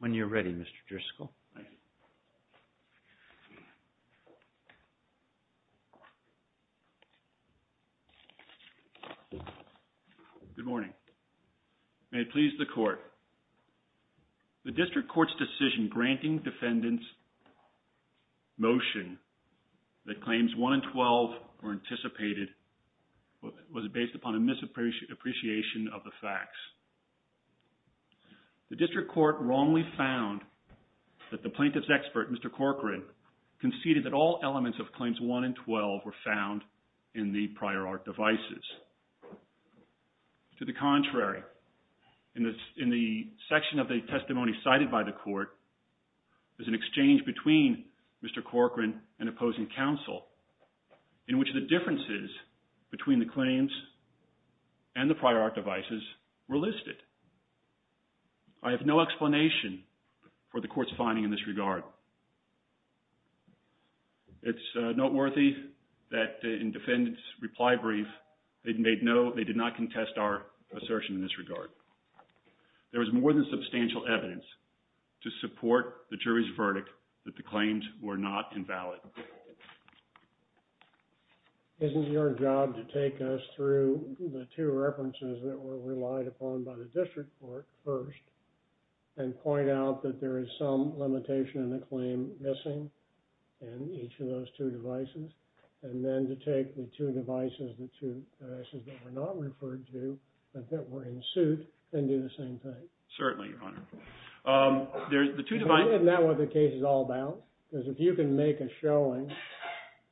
When you're ready, Mr. Driscoll. Good morning. May it please the Court. The District Court's decision granting defendants' motion that claims 1 and 12 were anticipated was based upon a misappreciation of the facts. The District Court wrongly found that the plaintiff's expert, Mr. Corcoran, conceded that all elements of claims 1 and 12 were found in the prior art devices. To the contrary, in the section of the testimony cited by the Court, there's an exchange between Mr. Corcoran and opposing counsel in which the differences between the claims and the prior art devices were listed. I have no explanation for the Court's finding in this regard. It's noteworthy that in defendants' reply brief, they did not contest our assertion in this regard. There is more than substantial evidence to support the jury's verdict that the claims were not invalid. Isn't it your job to take us through the two references that were relied upon by the District Court first, and point out that there is some limitation in the claim missing in each of those two devices, and then to take the two devices, the two devices that were not referred to, but that were in suit, and do the same thing? Certainly, Your Honor. There's the two devices. Isn't that what the case is all about? Because if you can make a showing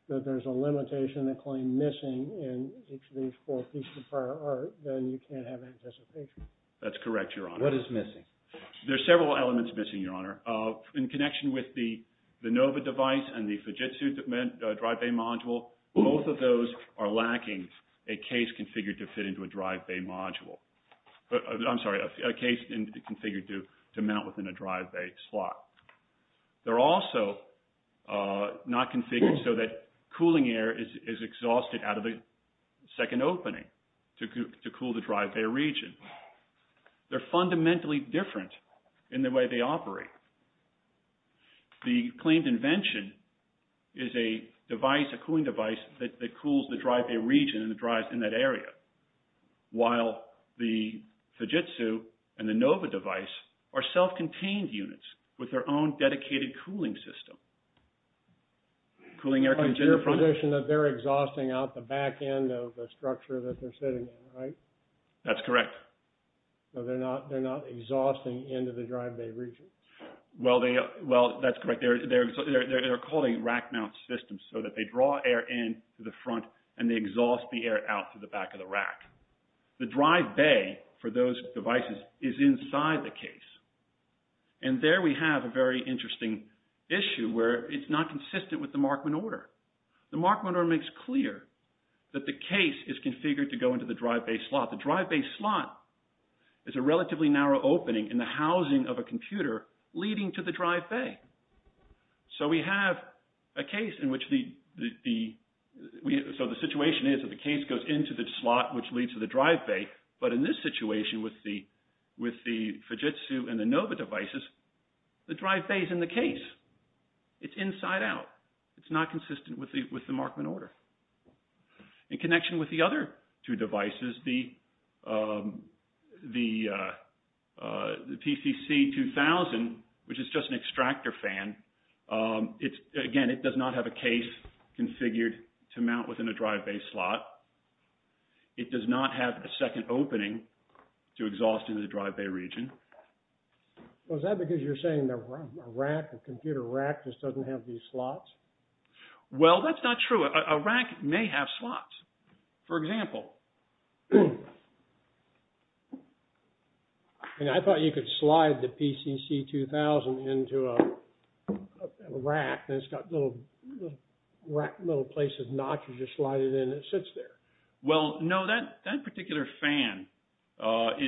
that there's a limitation in the claim missing in each of these four pieces of prior art, then you can't have anticipation. That's correct, Your Honor. What is missing? There are several elements missing, Your Honor. In connection with the Nova device and the Fujitsu drive bay module, both of those are lacking a case configured to fit into a drive bay module. I'm sorry, a case configured to mount within a drive bay slot. They're also not configured so that cooling air is exhausted out of the second opening to cool the drive bay region. They're fundamentally different in the way they operate. The claimed invention is a device, a cooling device, that cools the drive bay region and the drives in that area, while the Fujitsu and the Nova device are self-contained units with their own dedicated cooling system. Cooling air comes in the front. It's your position that they're exhausting out the back end of the structure that they're sitting in, right? That's correct. So they're not exhausting into the drive bay region? Well, that's correct. They're called a rack mount system so that they draw air in through the front and they exhaust the air out through the back of the rack. The drive bay for those devices is inside the case. And there we have a very interesting issue where it's not consistent with the Markman order. The Markman order makes clear that the case is configured to go into the drive bay slot. The drive bay slot is a relatively narrow opening in the housing of a computer leading to the drive bay. So we have a case in which the – so the situation is that the case goes into the slot which leads to the drive bay. But in this situation with the Fujitsu and the Nova devices, the drive bay is in the case. It's inside out. It's not consistent with the Markman order. In connection with the other two devices, the PCC-2000, which is just an extractor fan, it's – again, it does not have a case configured to mount within a drive bay slot. It does not have a second opening to exhaust into the drive bay region. Well, is that because you're saying a rack, a computer rack, just doesn't have these slots? Well, that's not true. A rack may have slots. For example. I thought you could slide the PCC-2000 into a rack and it's got little places not to just slide it in. It sits there. Well, no, that particular fan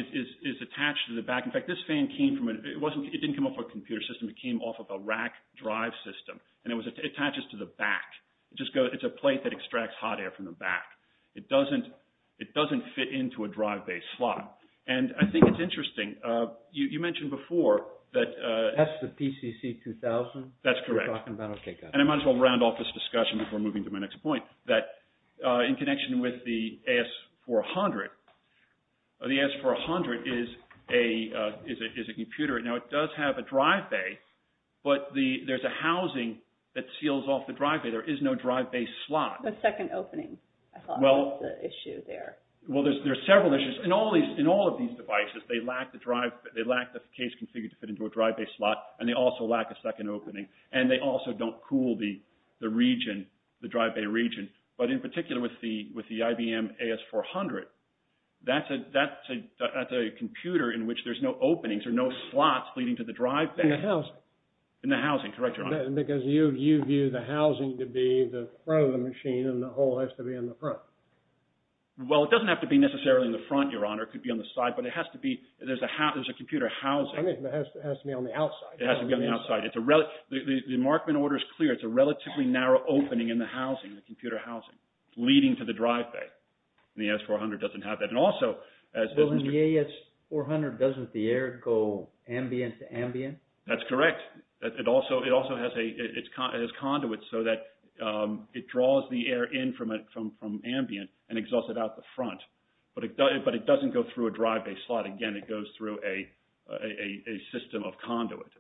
is attached to the back. In fact, this fan came from – it didn't come off a computer system. It came off of a rack drive system, and it attaches to the back. It's a plate that extracts hot air from the back. It doesn't fit into a drive bay slot. And I think it's interesting. You mentioned before that – That's the PCC-2000 you're talking about? That's correct. Okay, got it. And I might as well round off this discussion before moving to my next point, that in connection with the AS400, the AS400 is a computer. Now, it does have a drive bay, but there's a housing that seals off the drive bay. There is no drive bay slot. The second opening, I thought, was the issue there. Well, there are several issues. In all of these devices, they lack the case configured to fit into a drive bay slot, and they also lack a second opening. And they also don't cool the region, the drive bay region. But in particular with the IBM AS400, that's a computer in which there's no openings or no slots leading to the drive bay. In the housing. In the housing, correct, Your Honor. Because you view the housing to be the front of the machine, and the hole has to be in the front. Well, it doesn't have to be necessarily in the front, Your Honor. It could be on the side. But it has to be – there's a computer housing. I mean, it has to be on the outside. It has to be on the outside. The Markman order is clear. It's a relatively narrow opening in the housing, the computer housing, leading to the drive bay. And the AS400 doesn't have that. And also, as Mr. – Well, in the AS400, doesn't the air go ambient to ambient? That's correct. It also has a – it has conduits so that it draws the air in from ambient and exhausts it out the front. But it doesn't go through a drive bay slot. Again, it goes through a system of conduits.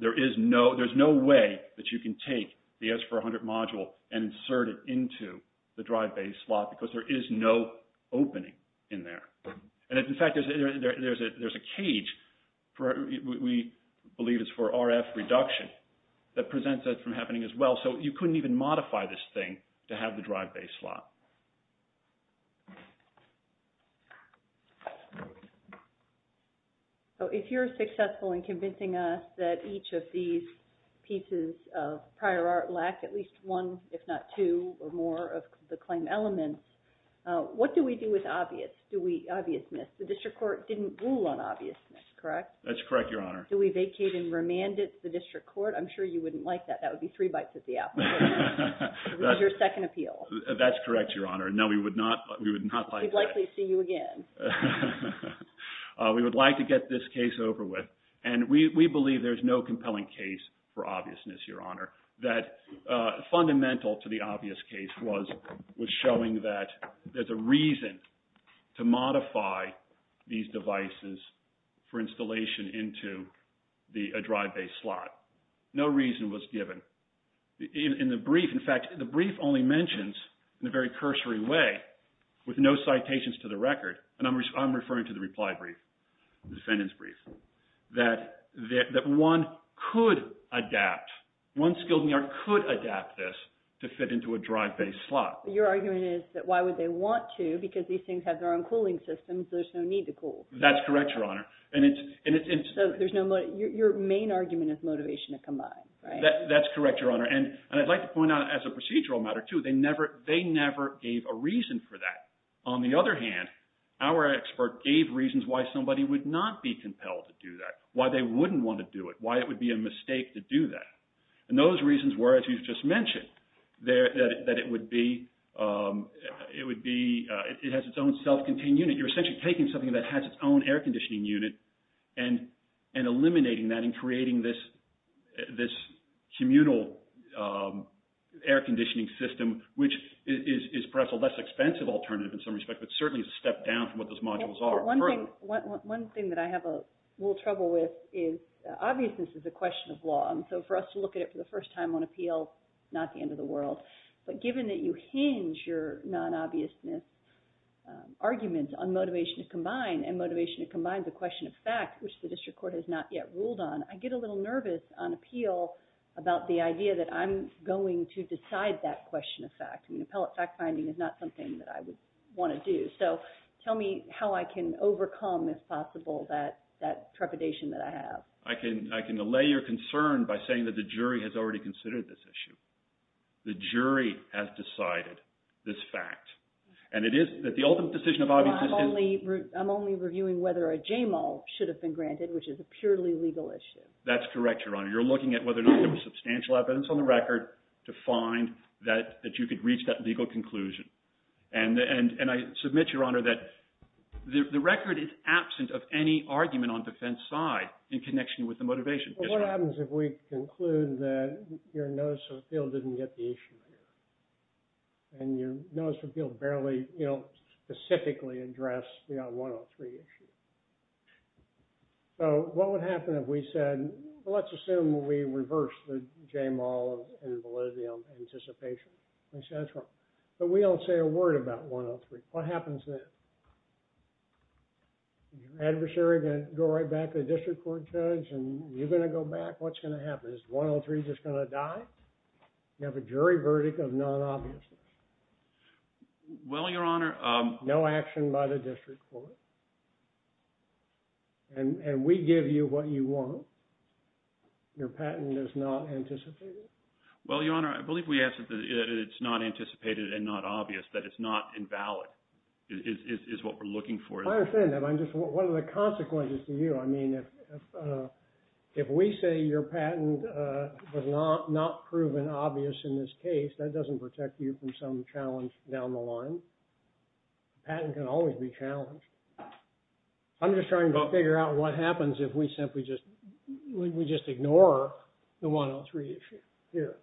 There is no – there's no way that you can take the AS400 module and insert it into the drive bay slot because there is no opening in there. And, in fact, there's a cage for – we believe it's for RF reduction that presents that from happening as well. So you couldn't even modify this thing to have the drive bay slot. So if you're successful in convincing us that each of these pieces of prior art lack at least one, if not two, or more of the claim elements, what do we do with obvious? Do we – obviousness? The district court didn't rule on obviousness, correct? That's correct, Your Honor. Do we vacate and remand it to the district court? I'm sure you wouldn't like that. That would be three bites at the apple. That's your second appeal. That's correct. That's correct, Your Honor. No, we would not like that. We'd likely see you again. We would like to get this case over with. And we believe there's no compelling case for obviousness, Your Honor, that fundamental to the obvious case was showing that there's a reason to modify these devices for installation into a drive bay slot. No reason was given. In the brief, in fact, the brief only mentions, in a very cursory way, with no citations to the record, and I'm referring to the reply brief, the defendant's brief, that one could adapt, one skilled New York could adapt this to fit into a drive bay slot. Your argument is that why would they want to? Because these things have their own cooling systems. There's no need to cool. That's correct, Your Honor. So there's no – your main argument is motivation to combine, right? That's correct, Your Honor. And I'd like to point out, as a procedural matter, too, they never gave a reason for that. On the other hand, our expert gave reasons why somebody would not be compelled to do that, why they wouldn't want to do it, why it would be a mistake to do that. And those reasons were, as you've just mentioned, that it would be – it has its own self-contained unit. You're essentially taking something that has its own air conditioning unit and eliminating that and creating this communal air conditioning system, which is perhaps a less expensive alternative in some respects, but certainly is a step down from what those modules are. One thing that I have a little trouble with is obviousness is a question of law. And so for us to look at it for the first time on appeal, not the end of the world. But given that you hinge your non-obviousness arguments on motivation to combine and motivation to combine the question of fact, which the district court has not yet ruled on, I get a little nervous on appeal about the idea that I'm going to decide that question of fact. Appellate fact-finding is not something that I would want to do. So tell me how I can overcome, if possible, that trepidation that I have. I can allay your concern by saying that the jury has already considered this issue. The jury has decided this fact. And it is that the ultimate decision of obviousness is – I'm only reviewing whether a JMO should have been granted, which is a purely legal issue. That's correct, Your Honor. You're looking at whether or not there was substantial evidence on the record to find that you could reach that legal conclusion. And I submit, Your Honor, that the record is absent of any argument on defense side in connection with the motivation. What happens if we conclude that your notice of appeal didn't get the issue? And your notice of appeal barely, you know, specifically addressed the 103 issue. So what would happen if we said, well, let's assume we reverse the J-mall and Validium anticipation? But we don't say a word about 103. What happens then? Is your adversary going to go right back to the district court judge and you're going to go back? What's going to happen? Is 103 just going to die? You have a jury verdict of non-obviousness. Well, Your Honor. No action by the district court. And we give you what you want. Your patent is not anticipated. Well, Your Honor, I believe we answered that it's not anticipated and not obvious, that it's not invalid, is what we're looking for. I understand that. I'm just – what are the consequences to you? I mean, if we say your patent was not proven obvious in this case, that doesn't protect you from some challenge down the line. A patent can always be challenged. I'm just trying to figure out what happens if we simply just – we just ignore the 103 issue here.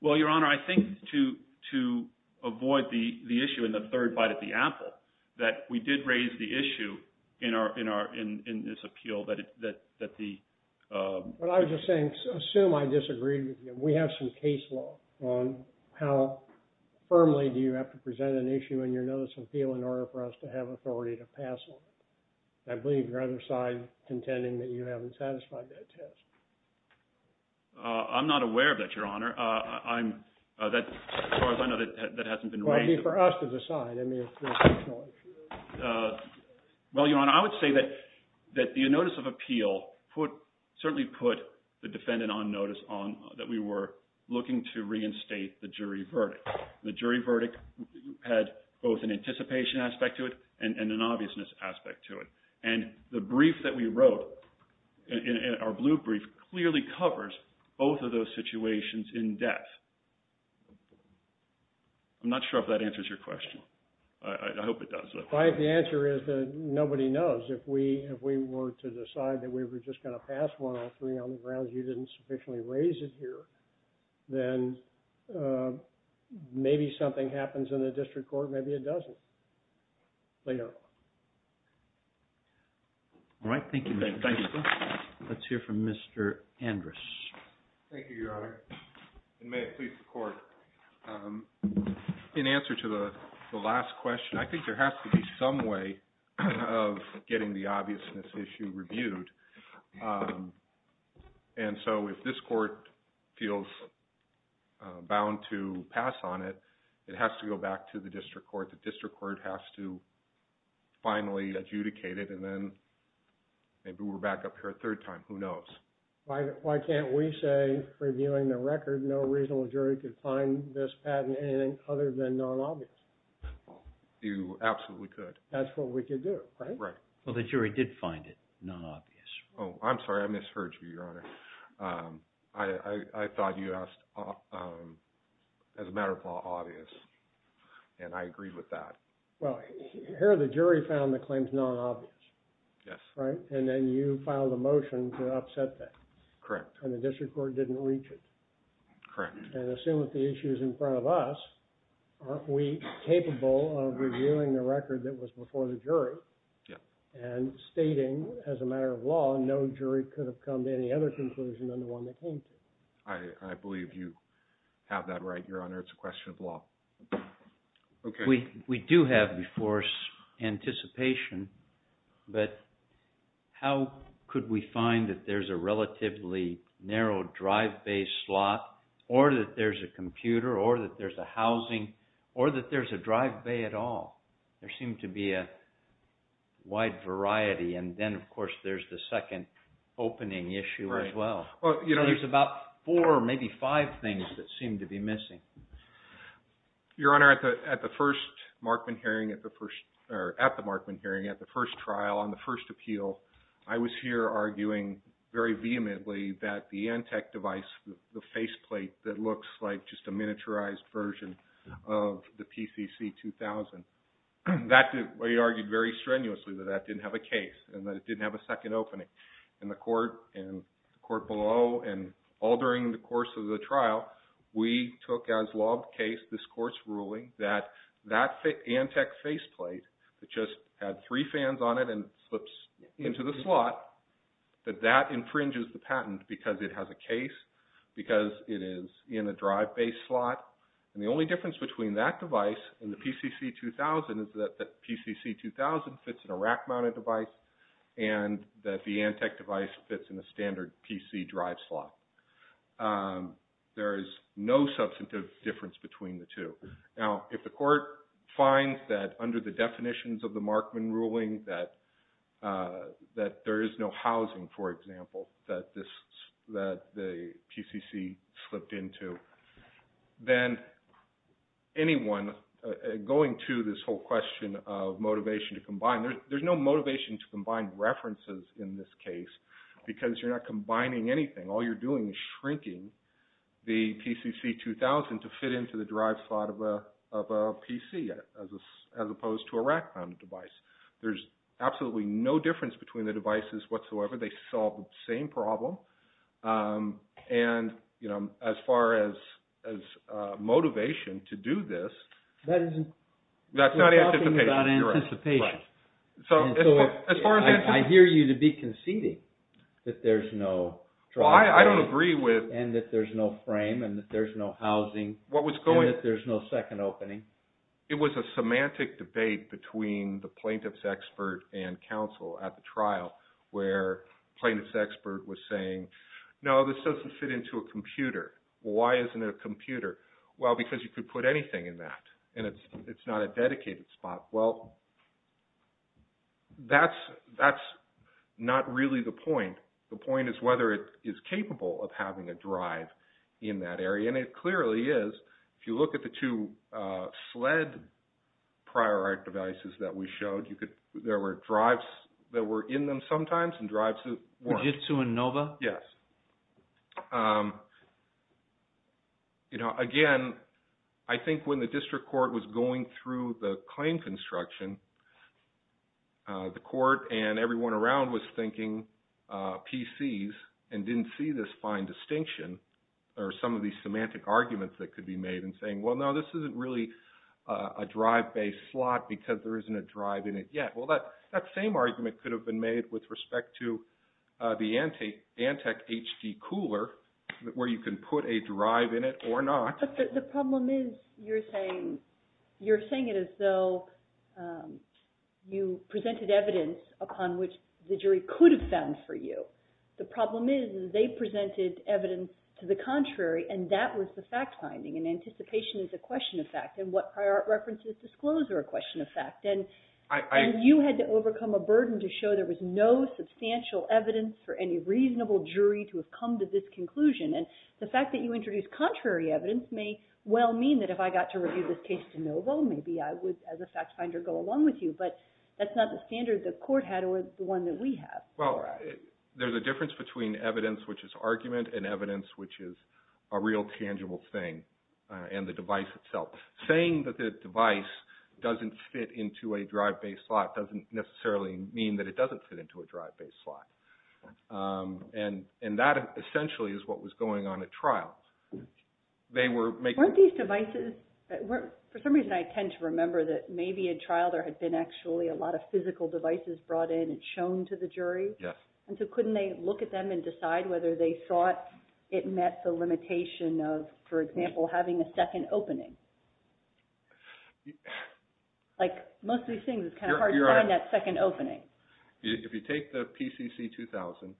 Well, Your Honor, I think to avoid the issue in the third bite at the apple, that we did raise the issue in this appeal that the – What I was just saying, assume I disagreed with you. We have some case law on how firmly do you have to present an issue in your notice of appeal in order for us to have authority to pass on it. I believe your other side contending that you haven't satisfied that test. I'm not aware of that, Your Honor. As far as I know, that hasn't been raised. Maybe for us to decide. Well, Your Honor, I would say that the notice of appeal certainly put the defendant on notice that we were looking to reinstate the jury verdict. The jury verdict had both an anticipation aspect to it and an obviousness aspect to it. And the brief that we wrote, our blue brief, clearly covers both of those situations in depth. I'm not sure if that answers your question. I hope it does, though. The answer is that nobody knows. If we were to decide that we were just going to pass 103 on the grounds you didn't sufficiently raise it here, then maybe something happens in the district court, maybe it doesn't. They know. All right. Thank you. Let's hear from Mr. Andrus. Thank you, Your Honor. And may it please the court, in answer to the last question, I think there has to be some way of getting the obviousness issue reviewed. And so if this court feels bound to pass on it, it has to go back to the district court. The district court has to finally adjudicate it, and then maybe we're back up here a third time. Who knows? Why can't we say, reviewing the record, no reasonable jury could find this patent anything other than non-obvious? You absolutely could. That's what we could do, right? Right. Well, the jury did find it non-obvious. Oh, I'm sorry. I misheard you, Your Honor. I thought you asked, as a matter of law, obvious. And I agreed with that. Well, here the jury found the claims non-obvious. Yes. Right? And then you filed a motion to upset that. Correct. And the district court didn't reach it. Correct. And assume that the issue is in front of us, aren't we capable of reviewing the record that was before the jury? Yes. And stating, as a matter of law, no jury could have come to any other conclusion than the one they came to. I believe you have that right, Your Honor. It's a question of law. Okay. We do have before us anticipation, but how could we find that there's a relatively narrow drive bay slot, or that there's a computer, or that there's a housing, or that there's a drive bay at all? There seemed to be a wide variety. And then, of course, there's the second opening issue as well. There's about four or maybe five things that seem to be missing. Your Honor, at the first trial, on the first appeal, I was here arguing very vehemently that the Antec device, the faceplate that looks like just a miniaturized version of the PCC-2000, we argued very strenuously that that didn't have a case and that it didn't have a second opening. In the court below and all during the course of the trial, we took as law of the case this court's ruling that that Antec faceplate that just had three fans on it and slips into the slot, that that infringes the patent because it has a case, because it is in a drive bay slot. And the only difference between that device and the PCC-2000 is that the PCC-2000 fits in a rack-mounted device and that the Antec device fits in a standard PC drive slot. There is no substantive difference between the two. Now, if the court finds that under the definitions of the Markman ruling that there is no housing, for example, that the PCC slipped into, then anyone going to this whole question of motivation to combine, there's no motivation to combine references in this case because you're not combining anything. All you're doing is shrinking the PCC-2000 to fit into the drive slot of a PC as opposed to a rack-mounted device. There's absolutely no difference between the devices whatsoever. They solve the same problem. And, you know, as far as motivation to do this... That isn't... That's not anticipation. You're talking about anticipation. Right. So, as far as anticipation... I hear you to be conceding that there's no drive bay. Well, I don't agree with... And that there's no frame and that there's no housing. What was going... And that there's no second opening. It was a semantic debate between the plaintiff's expert and counsel at the trial where plaintiff's expert was saying, no, this doesn't fit into a computer. Why isn't it a computer? Well, because you could put anything in that and it's not a dedicated spot. Well, that's not really the point. The point is whether it is capable of having a drive in that area. And it clearly is. If you look at the two sled prior art devices that we showed, there were drives that were in them sometimes and drives that weren't. Fujitsu and Nova? Yes. You know, again, I think when the district court was going through the claim construction, the court and everyone around was thinking PCs and didn't see this fine distinction or some of these semantic arguments that could be made and saying, well, no, this isn't really a drive-based slot because there isn't a drive in it yet. Well, that same argument could have been made with respect to the Antec HD cooler where you can put a drive in it or not. But the problem is you're saying it as though you presented evidence upon which the jury could have found for you. The problem is they presented evidence to the contrary and that was the fact finding and anticipation is a question of fact and what prior art references disclose are a question of fact. And you had to overcome a burden to show there was no substantial evidence for any reasonable jury to have come to this conclusion. And the fact that you introduced contrary evidence may well mean that if I got to review this case to Nova, maybe I would, as a fact finder, go along with you. But that's not the standard the court had or the one that we have. Well, there's a difference between evidence which is argument and evidence which is a real tangible thing and the device itself. Saying that the device doesn't fit into a drive-based slot doesn't necessarily mean that it doesn't fit into a drive-based slot. And that essentially is what was going on at trial. Weren't these devices, for some reason I tend to remember that maybe at trial there had been actually a lot of physical devices brought in and shown to the jury? Yes. And so couldn't they look at them and decide whether they thought it met the limitation of, for example, having a second opening? Like most of these things it's kind of hard to find that second opening. If you take the PCC-2000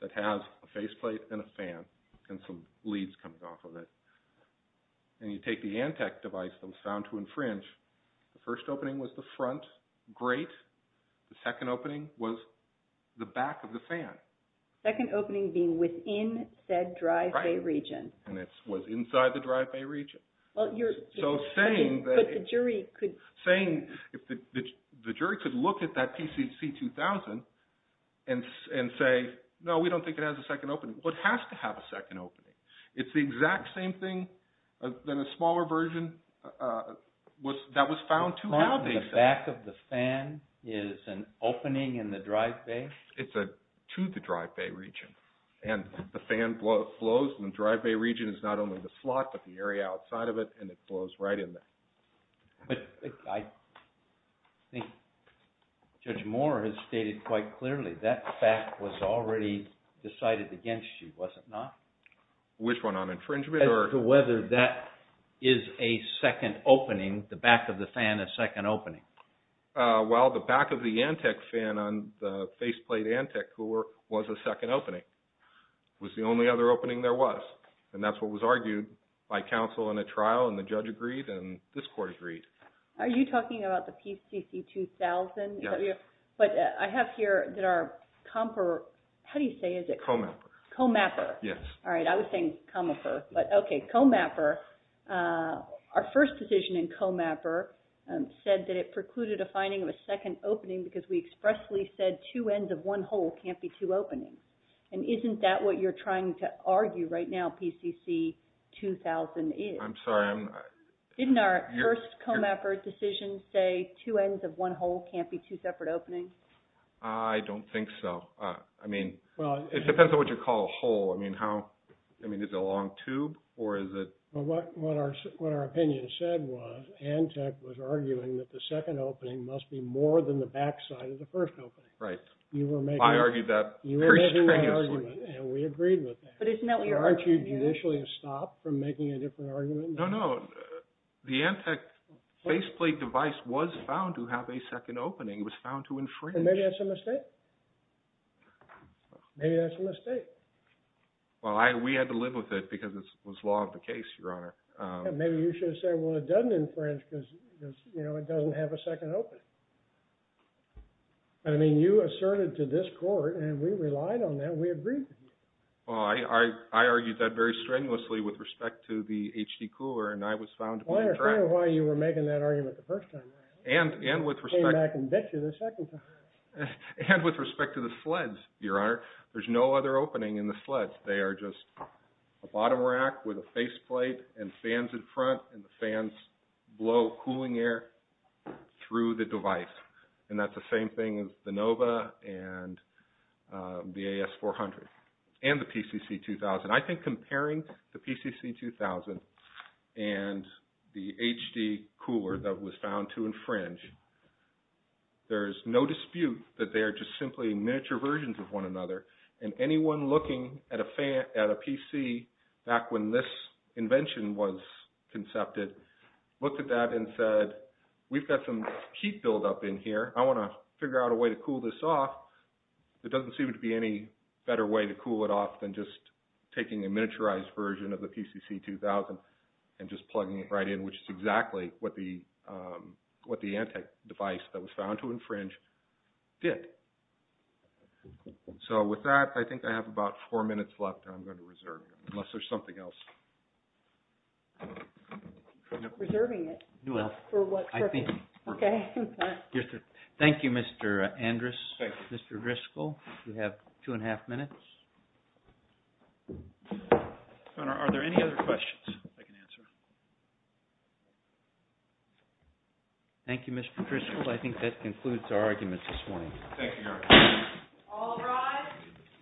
that has a faceplate and a fan and some leads coming off of it and you take the Antec device that was found to infringe, the first opening was the front, great. The second opening was the back of the fan. Second opening being within said drive-by region. And it was inside the drive-by region. So saying that the jury could look at that PCC-2000 and say, no, we don't think it has a second opening. Well, it has to have a second opening. It's the exact same thing than a smaller version that was found to have a second opening. So the back of the fan is an opening in the drive-by? It's to the drive-by region. And the fan flows in the drive-by region. It's not only the slot but the area outside of it, and it flows right in there. But I think Judge Moore has stated quite clearly that fact was already decided against you, was it not? Which one, on infringement or? As to whether that is a second opening, the back of the fan is a second opening. Well, the back of the Antec fan on the faceplate Antec cooler was a second opening. It was the only other opening there was. And that's what was argued by counsel in a trial, and the judge agreed, and this Court agreed. Are you talking about the PCC-2000? Yes. But I have here that our comper, how do you say it? Comapper. Comapper. Yes. All right, I was saying comaper, but okay, comapper. Our first decision in comapper said that it precluded a finding of a second opening because we expressly said two ends of one hole can't be two openings. And isn't that what you're trying to argue right now, PCC-2000 is? I'm sorry. Didn't our first comapper decision say two ends of one hole can't be two separate openings? I don't think so. I mean, it depends on what you call a hole. I mean, is it a long tube or is it? What our opinion said was Antec was arguing that the second opening must be more than the back side of the first opening. Right. I argued that. You were making that argument, and we agreed with that. But isn't that what you're arguing here? Aren't you judicially stopped from making a different argument? No, no. The Antec faceplate device was found to have a second opening. It was found to infringe. Maybe that's a mistake. Maybe that's a mistake. Well, we had to live with it because it was law of the case, Your Honor. Maybe you should have said, well, it doesn't infringe because, you know, it doesn't have a second opening. I mean, you asserted to this court, and we relied on that. We agreed with you. Well, I argued that very strenuously with respect to the HD cooler, and I was found to be incorrect. Well, I understand why you were making that argument the first time around. And with respect to the sleds, Your Honor, there's no other opening in the sleds. They are just a bottom rack with a faceplate and fans in front, and the fans blow cooling air through the device. And that's the same thing as the Nova and the AS400 and the PCC2000. I think comparing the PCC2000 and the HD cooler that was found to infringe, there's no dispute that they are just simply miniature versions of one another, and anyone looking at a PC back when this invention was concepted looked at that and said, we've got some heat buildup in here. I want to figure out a way to cool this off. There doesn't seem to be any better way to cool it off than just taking a miniaturized version of the PCC2000 and just plugging it right in, which is exactly what the Antec device that was found to infringe did. So with that, I think I have about four minutes left, and I'm going to reserve it unless there's something else. Reserving it for what purpose? Okay. Thank you, Mr. Andrus, Mr. Driscoll. You have two and a half minutes. Are there any other questions I can answer? Thank you, Mr. Driscoll. I think that concludes our arguments this morning. Thank you, Eric. All rise.